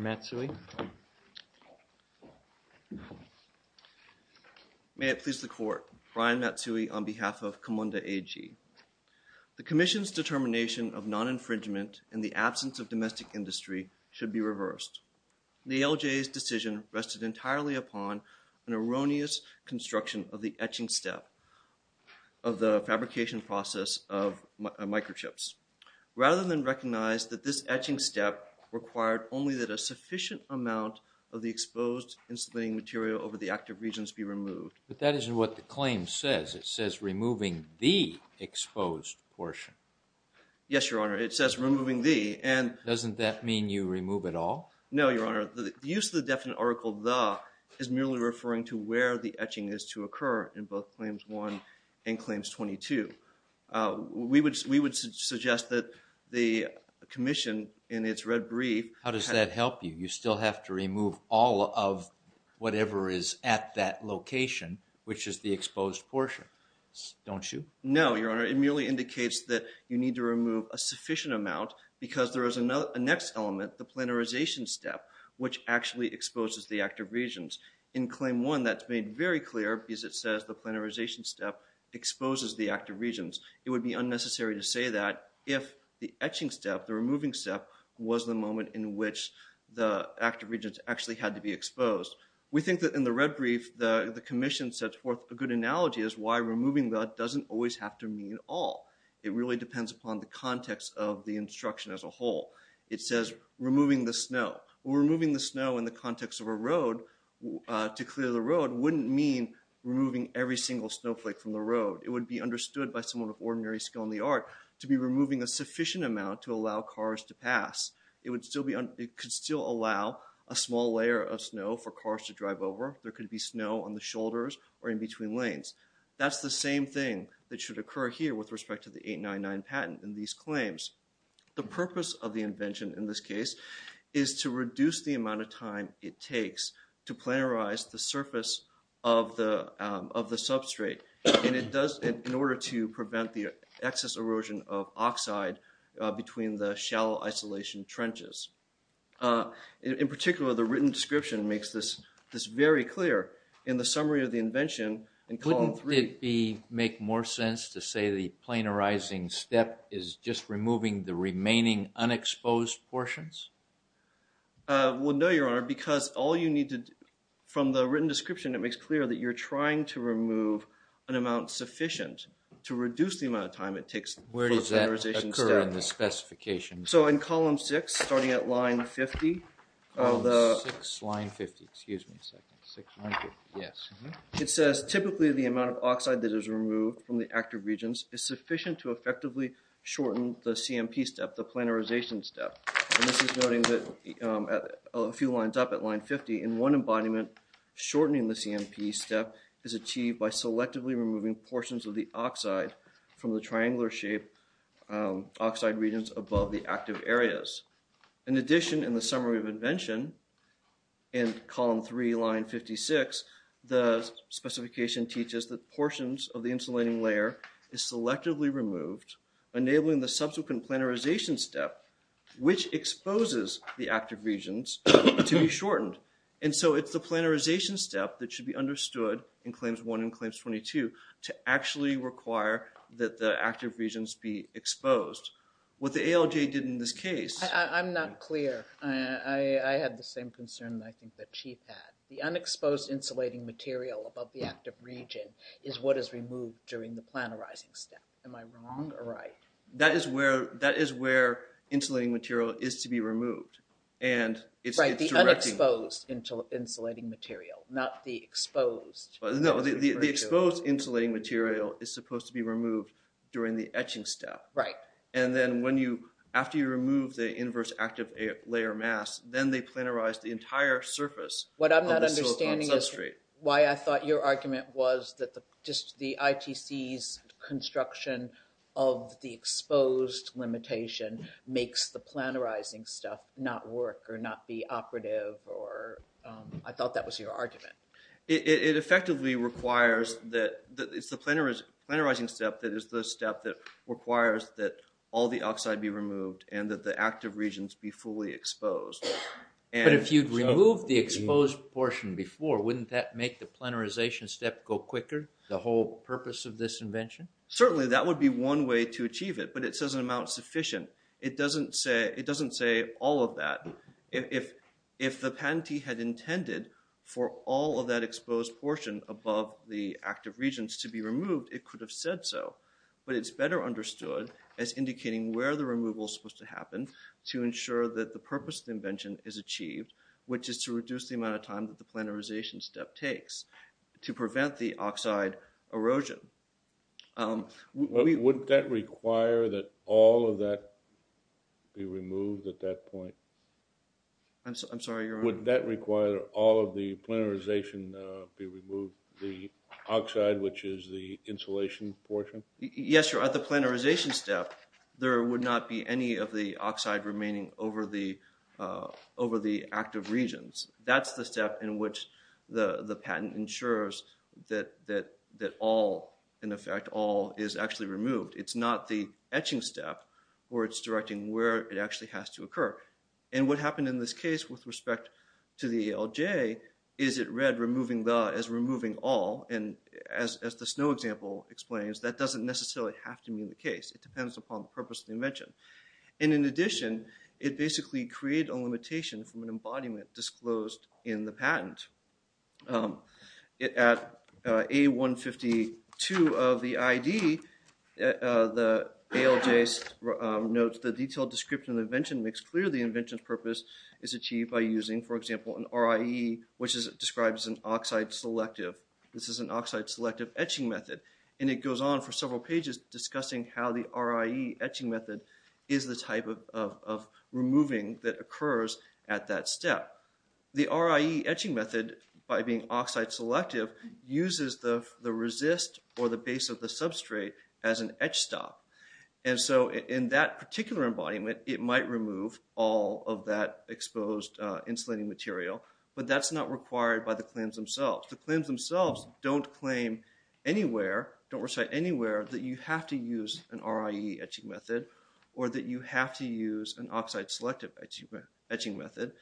Mr. Matsui. May it please the Court, Brian Matsui on behalf of KIMONDA AG. The Commission's determination of non-infringement in the absence of domestic industry should be reversed. The LJA's decision rested entirely upon an erroneous construction of the etching step of the fabrication process of microchips. Rather than recognize that this etching step required only that a sufficient amount of the exposed insulating material over the active regions be removed. But that isn't what the claim says. It says removing the exposed portion. Yes, Your Honor. It says removing the and... Doesn't that mean you remove it all? No, Your Honor. The use of the definite article the is merely referring to where the etching is to occur in both claims 1 and claims 22. We would we would suggest that the Commission in its red brief... How does that help you? You still have to remove all of whatever is at that location which is the exposed portion. Don't you? No, Your Honor. It merely indicates that you need to remove a sufficient amount because there is another next element the planarization step which actually exposes the active regions. In claim 1 that's made very clear because it says the planarization step exposes the active regions. It would be unnecessary to say that if the etching step, the removing step, was the moment in which the active regions actually had to be exposed. We think that in the red brief the the Commission sets forth a good analogy as why removing that doesn't always have to mean all. It really depends upon the it says removing the snow. Removing the snow in the context of a road to clear the road wouldn't mean removing every single snowflake from the road. It would be understood by someone of ordinary skill in the art to be removing a sufficient amount to allow cars to pass. It would still be on it could still allow a small layer of snow for cars to drive over. There could be snow on the shoulders or in between lanes. That's the same thing that should occur here with respect to the 1899 patent in these claims. The purpose of the invention in this case is to reduce the amount of time it takes to planarize the surface of the of the substrate and it does in order to prevent the excess erosion of oxide between the shallow isolation trenches. In particular the written description makes this this very clear. In the summary of the invention in column 3... step is just removing the remaining unexposed portions? Well no your honor because all you need to from the written description it makes clear that you're trying to remove an amount sufficient to reduce the amount of time it takes. Where does that occur in the specifications? So in column 6 starting at line 50 of the... line 50 excuse me a second. Yes it says typically the amount of shortened the CMP step the planarization step. This is noting that a few lines up at line 50 in one embodiment shortening the CMP step is achieved by selectively removing portions of the oxide from the triangular shape oxide regions above the active areas. In addition in the summary of invention in column 3 line 56 the specification teaches that portions of the insulating layer is enabling the subsequent planarization step which exposes the active regions to be shortened. And so it's the planarization step that should be understood in claims 1 and claims 22 to actually require that the active regions be exposed. What the ALJ did in this case... I'm not clear. I had the same concern I think that Chief had. The unexposed insulating material above the active region is what is removed during the planarizing step. Am I wrong or right? That is where that is where insulating material is to be removed and it's... Right the unexposed insulating material not the exposed. No the exposed insulating material is supposed to be removed during the etching step. Right. And then when you after you remove the inverse active layer mass then they planarize the entire surface. What I'm not understanding is why I thought your argument was that the just the ITC's construction of the exposed limitation makes the planarizing stuff not work or not be operative or I thought that was your argument. It effectively requires that it's the planarizing step that is the step that requires that all the oxide be removed and that the active regions be fully exposed. But if you'd removed the exposed portion before wouldn't that make the planarization step go quicker the whole purpose of this invention? Certainly that would be one way to achieve it but it says an amount sufficient. It doesn't say it doesn't say all of that. If the patentee had intended for all of that exposed portion above the active regions to be removed it could have said so but it's better understood as indicating where the removal is supposed to happen to ensure that the purpose of the invention is achieved which is to reduce the time that the planarization step takes to prevent the oxide erosion. Wouldn't that require that all of that be removed at that point? I'm sorry your honor? Would that require all of the planarization be removed the oxide which is the insulation portion? Yes sir at the planarization step there would not be any of the oxide remaining over the over the active regions. That's the step in which the the patent ensures that that that all in effect all is actually removed. It's not the etching step where it's directing where it actually has to occur and what happened in this case with respect to the ALJ is it read removing the as removing all and as the snow example explains that doesn't necessarily have to mean the case. It depends upon the purpose of the invention and in addition it basically created a limitation from an embodiment disclosed in the patent. At A152 of the ID the ALJ notes the detailed description of the invention makes clear the invention's purpose is achieved by using for example an RIE which is described as an oxide selective. This is an oxide selective etching method and it goes on for several pages discussing how the RIE etching method is the type of removing that occurs at that step. The RIE etching method by being oxide selective uses the the resist or the base of the substrate as an etch stop and so in that particular embodiment it might remove all of that exposed insulating material but that's not required by the claims themselves. The claims themselves don't claim anywhere don't recite anywhere that you have to use an RIE etching method or that you have to use an oxide selective etching method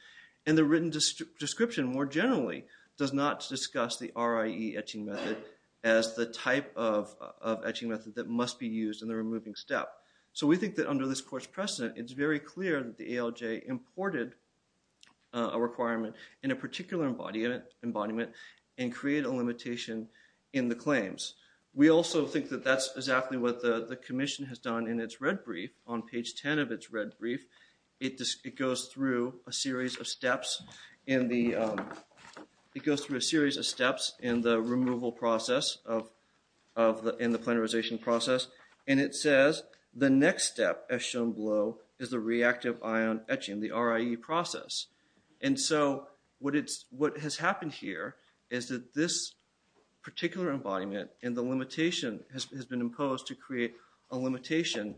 and the written description more generally does not discuss the RIE etching method as the type of etching method that must be used in the removing step. So we think that under this course precedent it's very clear that the ALJ imported a requirement in a particular embodiment and create a limitation in the claims. We also think that that's exactly what the the Commission has done in its red brief on page 10 of its red brief it just it goes through a series of steps in the it goes through a series of steps in the removal process of the in the planarization process and it says the next step as shown below is the reactive ion etching the RIE process and so what it's what has happened here is that this particular embodiment and the limitation has been imposed to create a limitation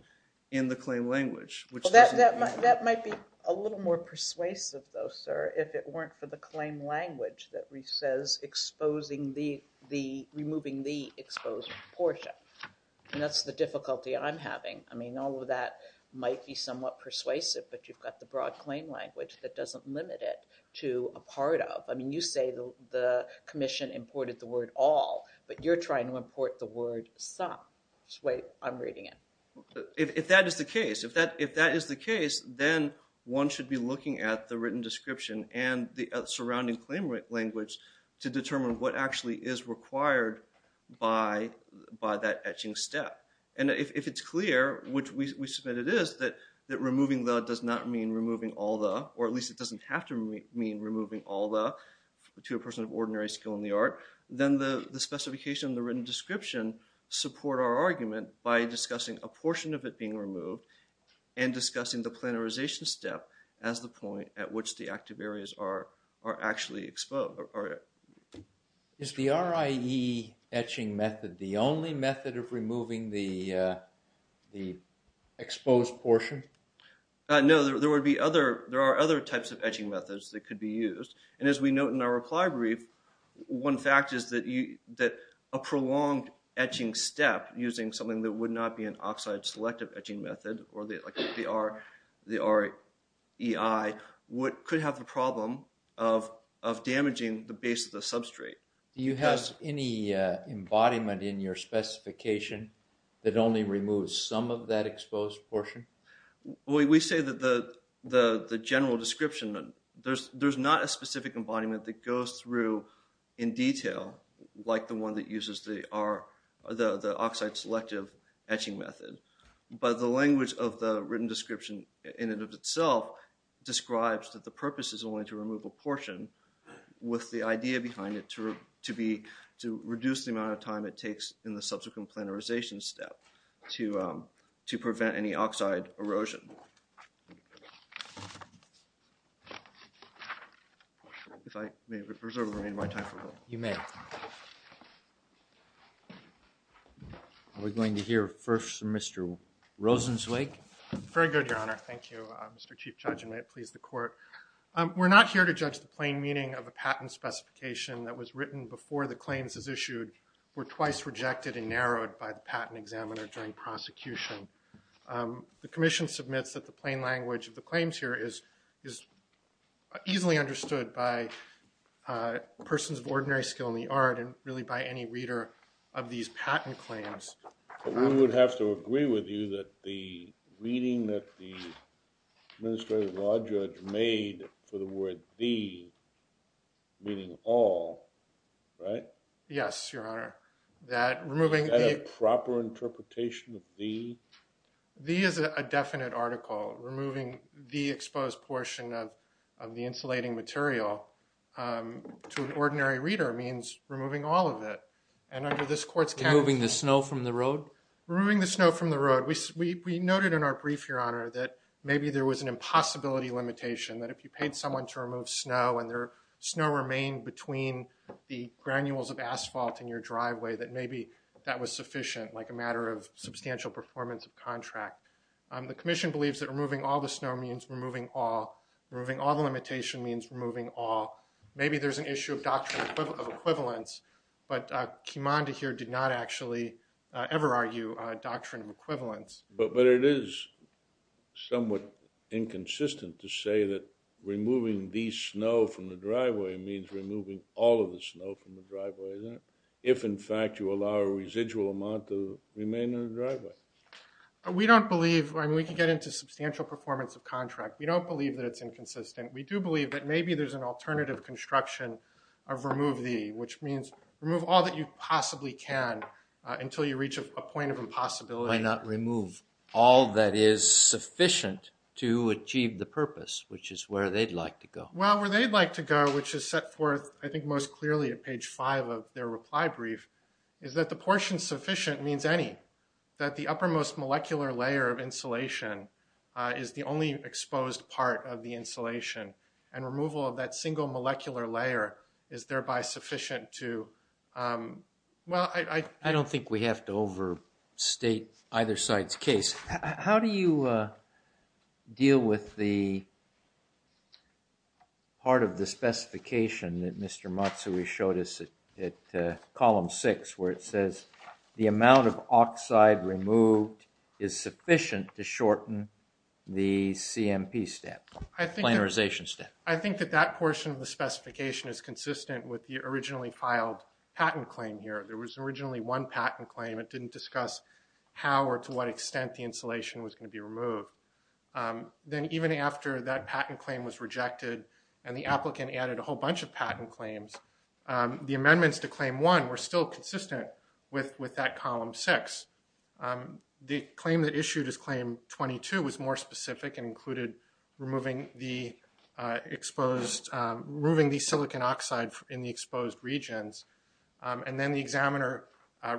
in the claim language. That might be a little more persuasive though sir if it weren't for the claim language that we says exposing the the removing the exposed portion and that's the difficulty I'm having I mean all of that might be somewhat persuasive but you've got the broad claim language that doesn't limit it to a part of I mean you say the Commission imported the word all but you're trying to import the word some. Wait I'm reading it. If that is the case if that if that is the case then one should be looking at the written description and the surrounding claim rate language to determine what actually is required by by that etching step and if it's clear which we submit it is that that removing the does not mean removing all the or at least it doesn't have to mean removing all the to a person of ordinary skill in the art then the the specification the written description support our argument by discussing a portion of it being removed and discussing the planarization step as the point at which the active areas are are actually exposed. Is the RIE etching method the only method of removing the the exposed portion? No there would be other there are other types of etching methods that could be used and as we note in our reply brief one fact is that you that a prolonged etching step using something that would not be an oxide selective etching method or they could have the problem of of damaging the base of the substrate. Do you have any embodiment in your specification that only removes some of that exposed portion? We say that the the the general description there's there's not a specific embodiment that goes through in detail like the one that uses the are the the oxide selective etching method but the language of the written description in and of itself describes that the purpose is only to remove a portion with the idea behind it to to be to reduce the amount of time it takes in the subsequent planarization step to to prevent any oxide erosion. If I may reserve my time for a moment. You may. We're going to hear first from Mr. Rosenzweig. Very good your honor. Thank you Mr. Chief Judge and may it please the court. We're not here to judge the plain meaning of a patent specification that was written before the claims is issued were twice rejected and narrowed by the patent examiner during prosecution. The Commission submits that the plain language of the claims here is is easily understood by persons of ordinary skill in the art and really by any reader of these patent claims. We would have to agree with you that the reading that the administrative law judge made for the word the meaning all right. Yes your honor that removing a proper interpretation of the the is a definite article removing the exposed portion of the material to an ordinary reader means removing all of it and under this court's can moving the snow from the road removing the snow from the road. We we noted in our brief your honor that maybe there was an impossibility limitation that if you paid someone to remove snow and their snow remained between the granules of asphalt in your driveway that maybe that was sufficient like a matter of substantial performance of contract. The Commission believes that removing all the means removing all maybe there's an issue of doctrine of equivalence but Kimondi here did not actually ever argue a doctrine of equivalence. But but it is somewhat inconsistent to say that removing these snow from the driveway means removing all of the snow from the driveway then if in fact you allow a residual amount to remain in the driveway. We don't believe when we can get into substantial performance of contract we don't believe that it's inconsistent we do believe that maybe there's an alternative construction of remove the which means remove all that you possibly can until you reach a point of impossibility not remove all that is sufficient to achieve the purpose which is where they'd like to go. Well where they'd like to go which is set forth I think most clearly at page 5 of their reply brief is that the portion sufficient means any that the uppermost molecular layer of insulation is the only exposed part of the insulation and removal of that single molecular layer is thereby sufficient to well I I don't think we have to overstate either side's case. How do you deal with the part of the specification that Mr. Matsui showed us at column 6 where it says the amount of oxide removed is sufficient to shorten the CMP step planarization step? I think that that portion of the specification is consistent with the originally filed patent claim here there was originally one patent claim it didn't discuss how or to what extent the insulation was going to be removed then even after that patent claim was rejected and the applicant added a whole bunch of patent claims the amendments to claim 1 were still consistent with with that column 6. The claim that issued claim 22 was more specific and included removing the exposed removing the silicon oxide in the exposed regions and then the examiner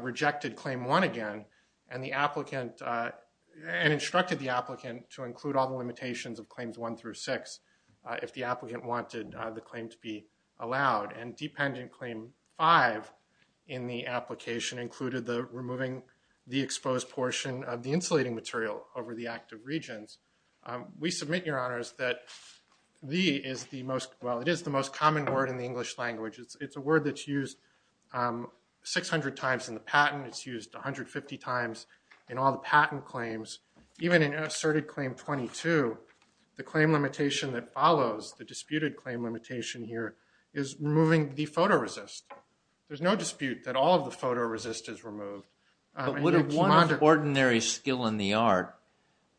rejected claim 1 again and the applicant and instructed the applicant to include all the limitations of claims 1 through 6 if the applicant wanted the claim to be allowed and dependent claim 5 in the application included the removing the exposed portion of the insulating material over the active regions we submit your honors that the is the most well it is the most common word in the English language it's a word that's used 600 times in the patent it's used 150 times in all the patent claims even in an asserted claim 22 the claim limitation that follows the disputed claim limitation here is removing the photoresist there's no dispute that all of the photoresist is removed would have wanted ordinary skill in the art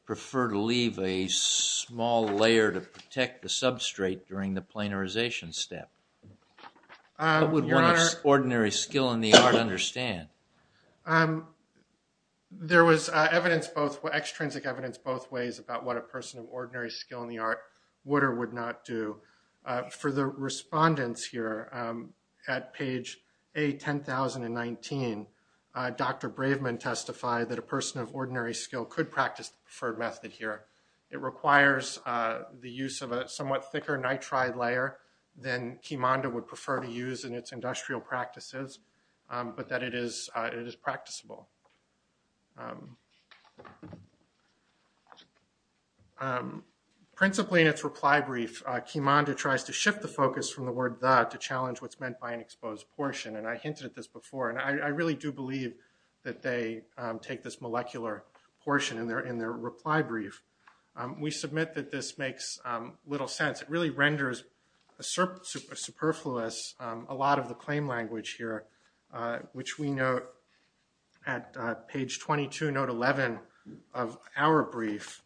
prefer to leave a small layer to protect the substrate during the planarization step ordinary skill in the art understand there was evidence both were extrinsic evidence both ways about what a person of ordinary skill in the art would or would not do for the respondents here at page a 10,019 dr. braveman testified that a person of ordinary skill could practice the preferred method here it requires the use of a somewhat thicker nitride layer then kimanda would prefer to use in its industrial practices but that it is it is practicable principally in its reply brief kimanda tries to shift the focus from the word that to challenge what's meant by an exposed portion and I hinted at this before and I really do believe that they take this molecular portion and they're in their reply brief we submit that this makes little sense it really renders a surplus superfluous a lot of the claim language here which we know at page 22 note 11 of our brief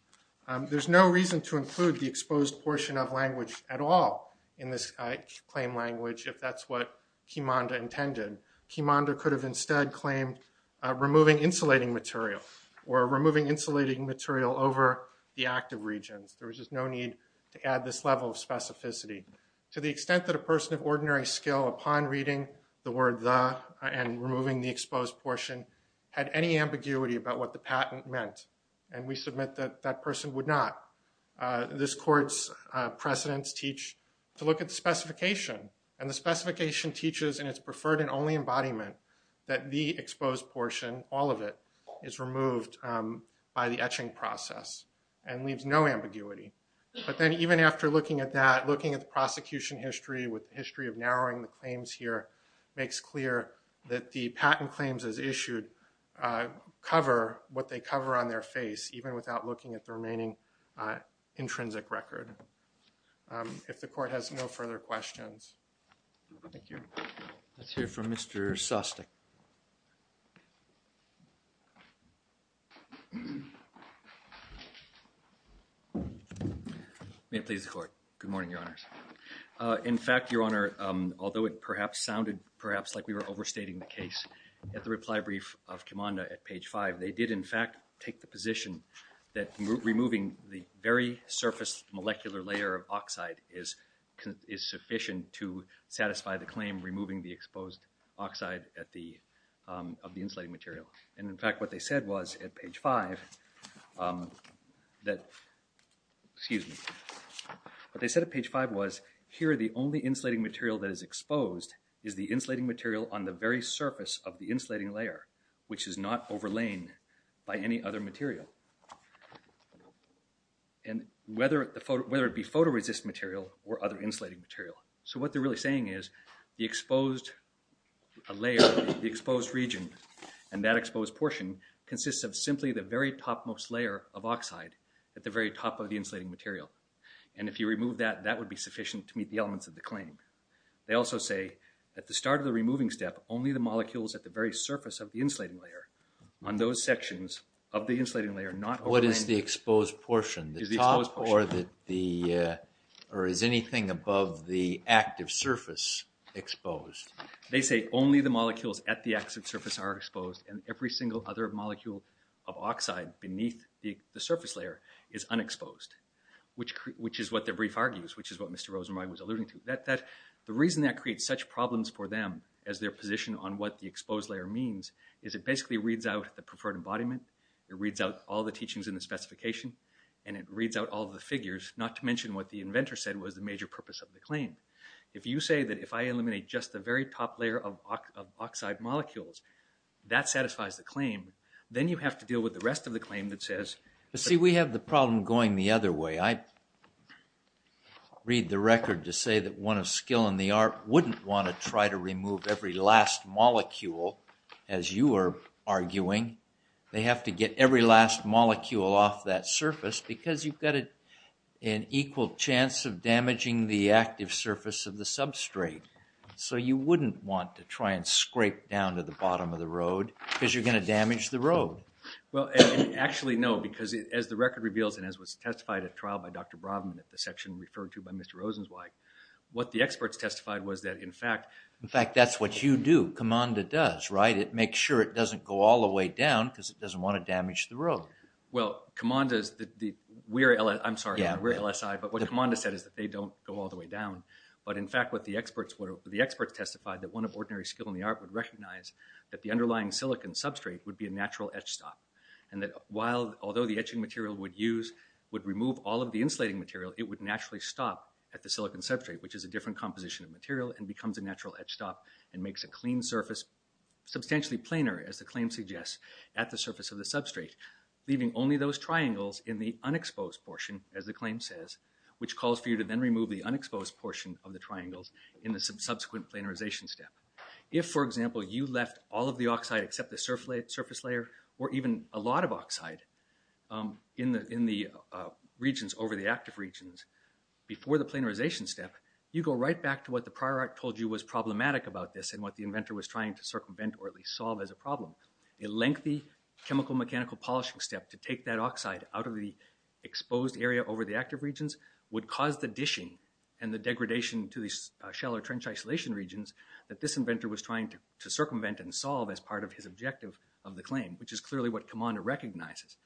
there's no reason to include the exposed portion of language at all in this claim language if that's what kimanda intended kimanda could have instead claimed removing insulating material or removing insulating material over the active regions there was no need to add this level of specificity to the extent that a person of ordinary skill upon reading the word the and removing the exposed portion had any ambiguity about what the patent meant and we submit that that person would not this courts precedents teach to look at the specification and the specification teaches and it's preferred and only embodiment that the exposed portion all of it is removed by the etching process and leaves no ambiguity but then even after looking at that looking at the prosecution history with the history of narrowing the claims here makes clear that the patent claims as issued cover what they cover on their face even without looking at the remaining intrinsic record if the court has no further questions thank you let's hear from mr. Sostek may it please the court good morning your honors in fact your honor although it perhaps sounded perhaps like we were overstating the case at the reply brief of kimanda at page 5 they did in fact take the position that removing the very surface molecular layer of oxide is is sufficient to satisfy the claim removing the exposed oxide at the of the insulating material and in fact what they said was at page 5 that excuse me but they said at page 5 was here the only insulating material that is exposed is the insulating material on the very surface of the insulating layer which is not overlaying by any other material and whether the photo whether it be photoresist material or other insulating material so what they're really saying is the exposed a layer the exposed region and that exposed portion consists of simply the very topmost layer of oxide at the very top of the insulating material and if you remove that that would be sufficient to meet the elements of the claim they also say at the start of the removing step only the molecules at the very surface of the insulating layer on those sections of the insulating layer not what is the exposed portion the top or that the or is anything above the active surface exposed they say only the molecules at the exit surface are exposed and every single other molecule of oxide beneath the surface layer is exposed which which is what the brief argues which is what mr. Rosenberg was alluding to that that the reason that creates such problems for them as their position on what the exposed layer means is it basically reads out the preferred embodiment it reads out all the teachings in the specification and it reads out all the figures not to mention what the inventor said was the major purpose of the claim if you say that if I eliminate just the very top layer of oxide molecules that satisfies the claim then you have to deal with the rest of the claim that says see we have the problem going the other way I read the record to say that one of skill in the art wouldn't want to try to remove every last molecule as you are arguing they have to get every last molecule off that surface because you've got it an equal chance of damaging the active surface of the substrate so you wouldn't want to try and scrape down to the bottom of the road because you're record reveals and as was testified at trial by dr. Brabham at the section referred to by mr. Rosen's wife what the experts testified was that in fact in fact that's what you do come on that does right it makes sure it doesn't go all the way down because it doesn't want to damage the road well come on does that the we're Ella I'm sorry yeah we're LSI but what come on to said is that they don't go all the way down but in fact what the experts were the experts testified that one of ordinary skill in the art would recognize that the underlying silicon substrate would be a material would use would remove all of the insulating material it would naturally stop at the silicon substrate which is a different composition of material and becomes a natural etch stop and makes a clean surface substantially planar as the claim suggests at the surface of the substrate leaving only those triangles in the unexposed portion as the claim says which calls for you to then remove the unexposed portion of the triangles in the subsequent planarization step if for example you left all of the oxide except the surface surface layer or even a lot of oxide in the in the regions over the active regions before the planarization step you go right back to what the prior art told you was problematic about this and what the inventor was trying to circumvent or at least solve as a problem a lengthy chemical mechanical polishing step to take that oxide out of the exposed area over the active regions would cause the dishing and the degradation to the shell or trench isolation regions that this inventor was trying to circumvent and solve as part of his objective of the claim which is clearly what come on to recognizes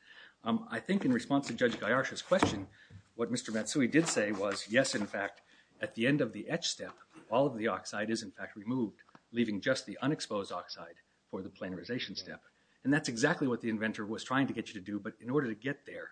I think in response to judge Guy Archer's question what mr. Matsui did say was yes in fact at the end of the etch step all of the oxide is in fact removed leaving just the unexposed oxide for the planarization step and that's exactly what the inventor was trying to get you to do but in order to get there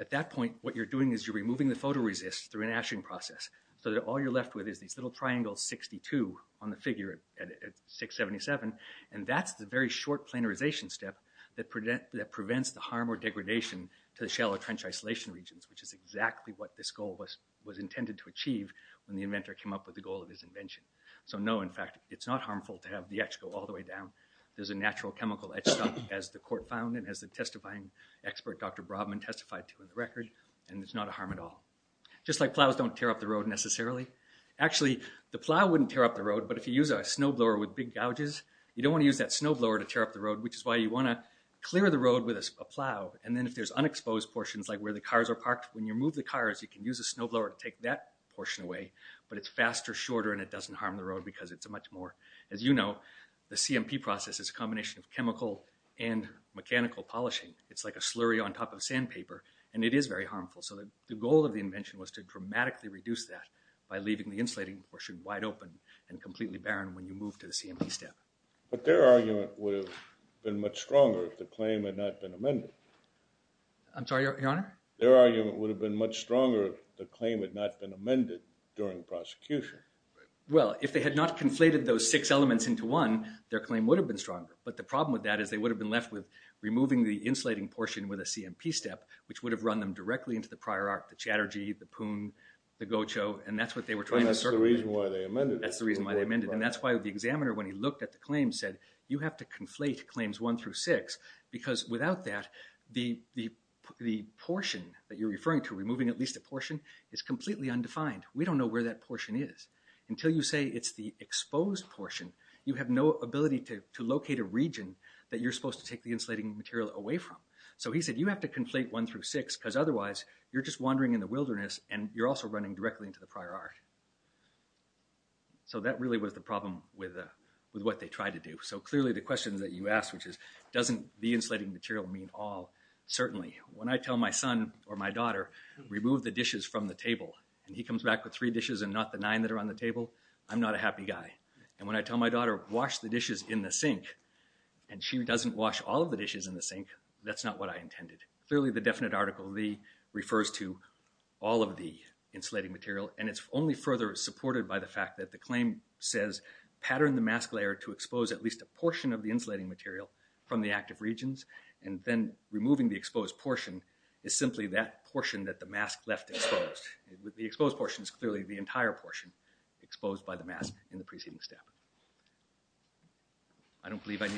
at that point what you're doing is you're removing the photoresist through an ashing process so that all you're left with is these little triangles 62 on the figure at 677 and that's the very short planarization step that prevent that prevents the harm or degradation to the shallow trench isolation regions which is exactly what this goal was was intended to achieve when the inventor came up with the goal of his invention so no in fact it's not harmful to have the X go all the way down there's a natural chemical as the court found and as the testifying expert dr. Brobman testified to in the record and it's not a harm at all just like plows don't tear up the road necessarily actually the plow wouldn't tear up the road but if you use a snowblower with big gouges you don't want to use that snowblower to tear up the road which is why you want to clear the road with a plow and then if there's unexposed portions like where the cars are parked when you move the cars you can use a snowblower to take that portion away but it's faster shorter and it doesn't harm the road because it's a much more as you know the CMP process is a combination of chemical and mechanical polishing it's like a slurry on top of sandpaper and it is very harmful so that the goal of the invention was to dramatically reduce that by leaving the insulating portion wide open and completely barren when you move to the CMP step but their argument would have been much stronger if the claim had not been amended I'm sorry your honor their argument would have been much stronger the claim had not been amended during prosecution well if they had not conflated those six elements into one their claim would have been stronger but the problem with that is they would have been left with removing the insulating portion with a CMP step which would have run them directly into the prior arc the chatter G the poon the gocho and that's what they were trying that's the reason why they amended that's the reason why they amended and that's why the examiner when he looked at the claim said you have to conflate claims one through six because without that the the portion that you're referring to removing at least a portion is completely undefined we don't know where that portion is until you say it's the exposed portion you have no ability to locate a region that you're supposed to take the insulating material away from so he said you have to conflate one through six because otherwise you're just wandering in the wilderness and you're also running directly into the prior arc so that really was the problem with with what they tried to do so clearly the questions that you asked which is doesn't the insulating material mean all certainly when I tell my son or my daughter remove the dishes from the table and he comes back with three dishes and not the nine that are on the table I'm not a happy guy and when I tell my daughter wash the dishes in the sink and she doesn't wash all of the dishes in the sink that's not what I intended clearly the definite article the refers to all of the insulating material and it's only further supported by the fact that the claim says pattern the mask layer to expose at least a portion of the insulating material from the active regions and then removing the exposed portion is simply that portion that the mask left exposed the exposed portion is clearly the entire portion exposed by the mask in the preceding step I don't believe I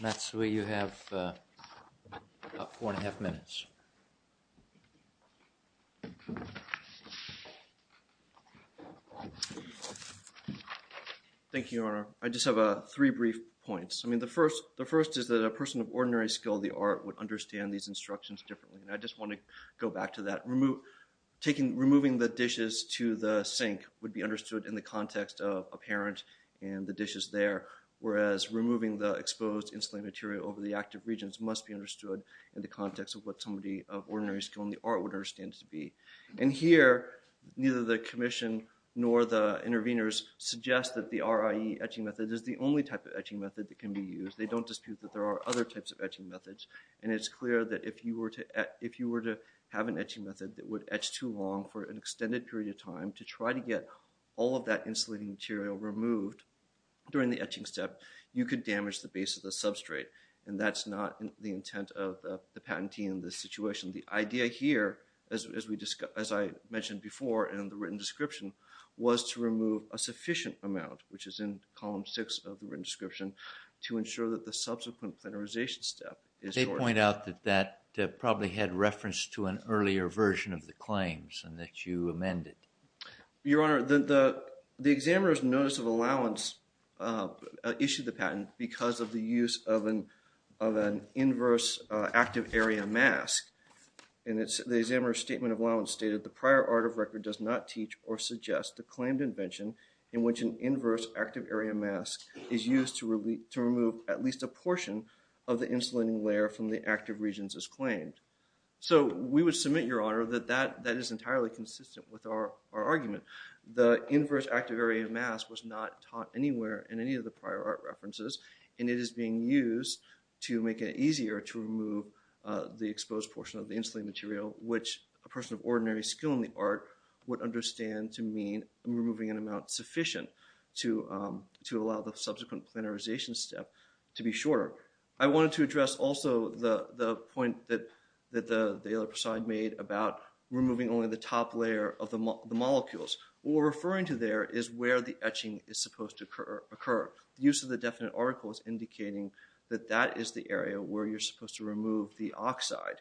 that's where you have four and a half minutes thank you honor I just have a three brief points I mean the first the first is that a person of ordinary skill the art would understand these instructions differently and I just want to go back to that remove taking removing the dishes to the sink would be understood in the context of a parent and the dishes there whereas removing the exposed insulating material over the active regions must be understood in the context of what somebody of ordinary skill in the art would understand to be and here neither the Commission nor the interveners suggest that the RIE etching method is the only type of etching method that can be used they don't dispute that there are other types of etching methods and it's clear that if you were to if you were to have an etching method that would etch too long for an extended period of time to try to get all of that insulating material removed during the etching step you could damage the base of the substrate and that's not the intent of the patentee in this situation the idea here as we discussed as I mentioned before and in the written description was to remove a sufficient amount which is in column six of the written description to ensure that the subsequent plenarization step is they point out that that probably had reference to an earlier version of the claims and that you amended your honor the the examiner's notice of allowance issued the patent because of the use of an of an inverse active area mask and it's the examiner's statement of allowance stated the prior art of record does not teach or suggest the claimed invention in which an inverse active area mask is used to really to remove at least a portion of the insulating layer from the active regions is claimed so we would submit your honor that that that is entirely consistent with our argument the inverse active area mask was not taught anywhere in any of the prior art references and it is being used to make it easier to remove the exposed portion of the insulin material which a person of ordinary skill in the art would understand to mean removing an amount sufficient to to allow the subsequent plenarization step to be shorter I wanted to address also the the point that that the the other side made about removing only the top layer of the molecules or referring to there is where the etching is supposed to occur occur use of the definite articles indicating that that is the area where you're supposed to remove the oxide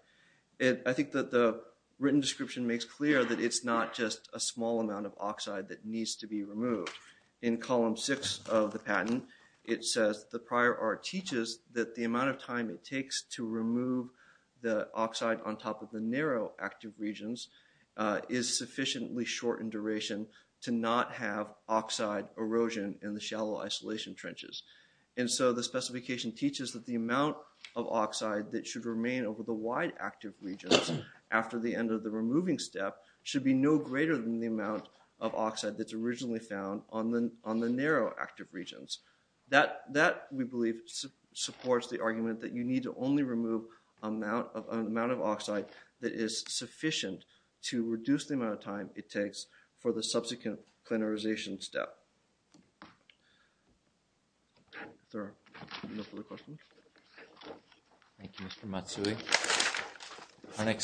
it I think that the written description makes clear that it's not just a small amount of oxide that needs to be removed in column 6 of the oxide on top of the narrow active regions is sufficiently short in duration to not have oxide erosion in the shallow isolation trenches and so the specification teaches that the amount of oxide that should remain over the wide active regions after the end of the removing step should be no greater than the amount of oxide that's originally found on the on the narrow active regions that that we believe supports the argument that you need to only remove amount of an amount of oxide that is sufficient to reduce the amount of time it takes for the subsequent plenarization step. Thank you Mr. Matsui.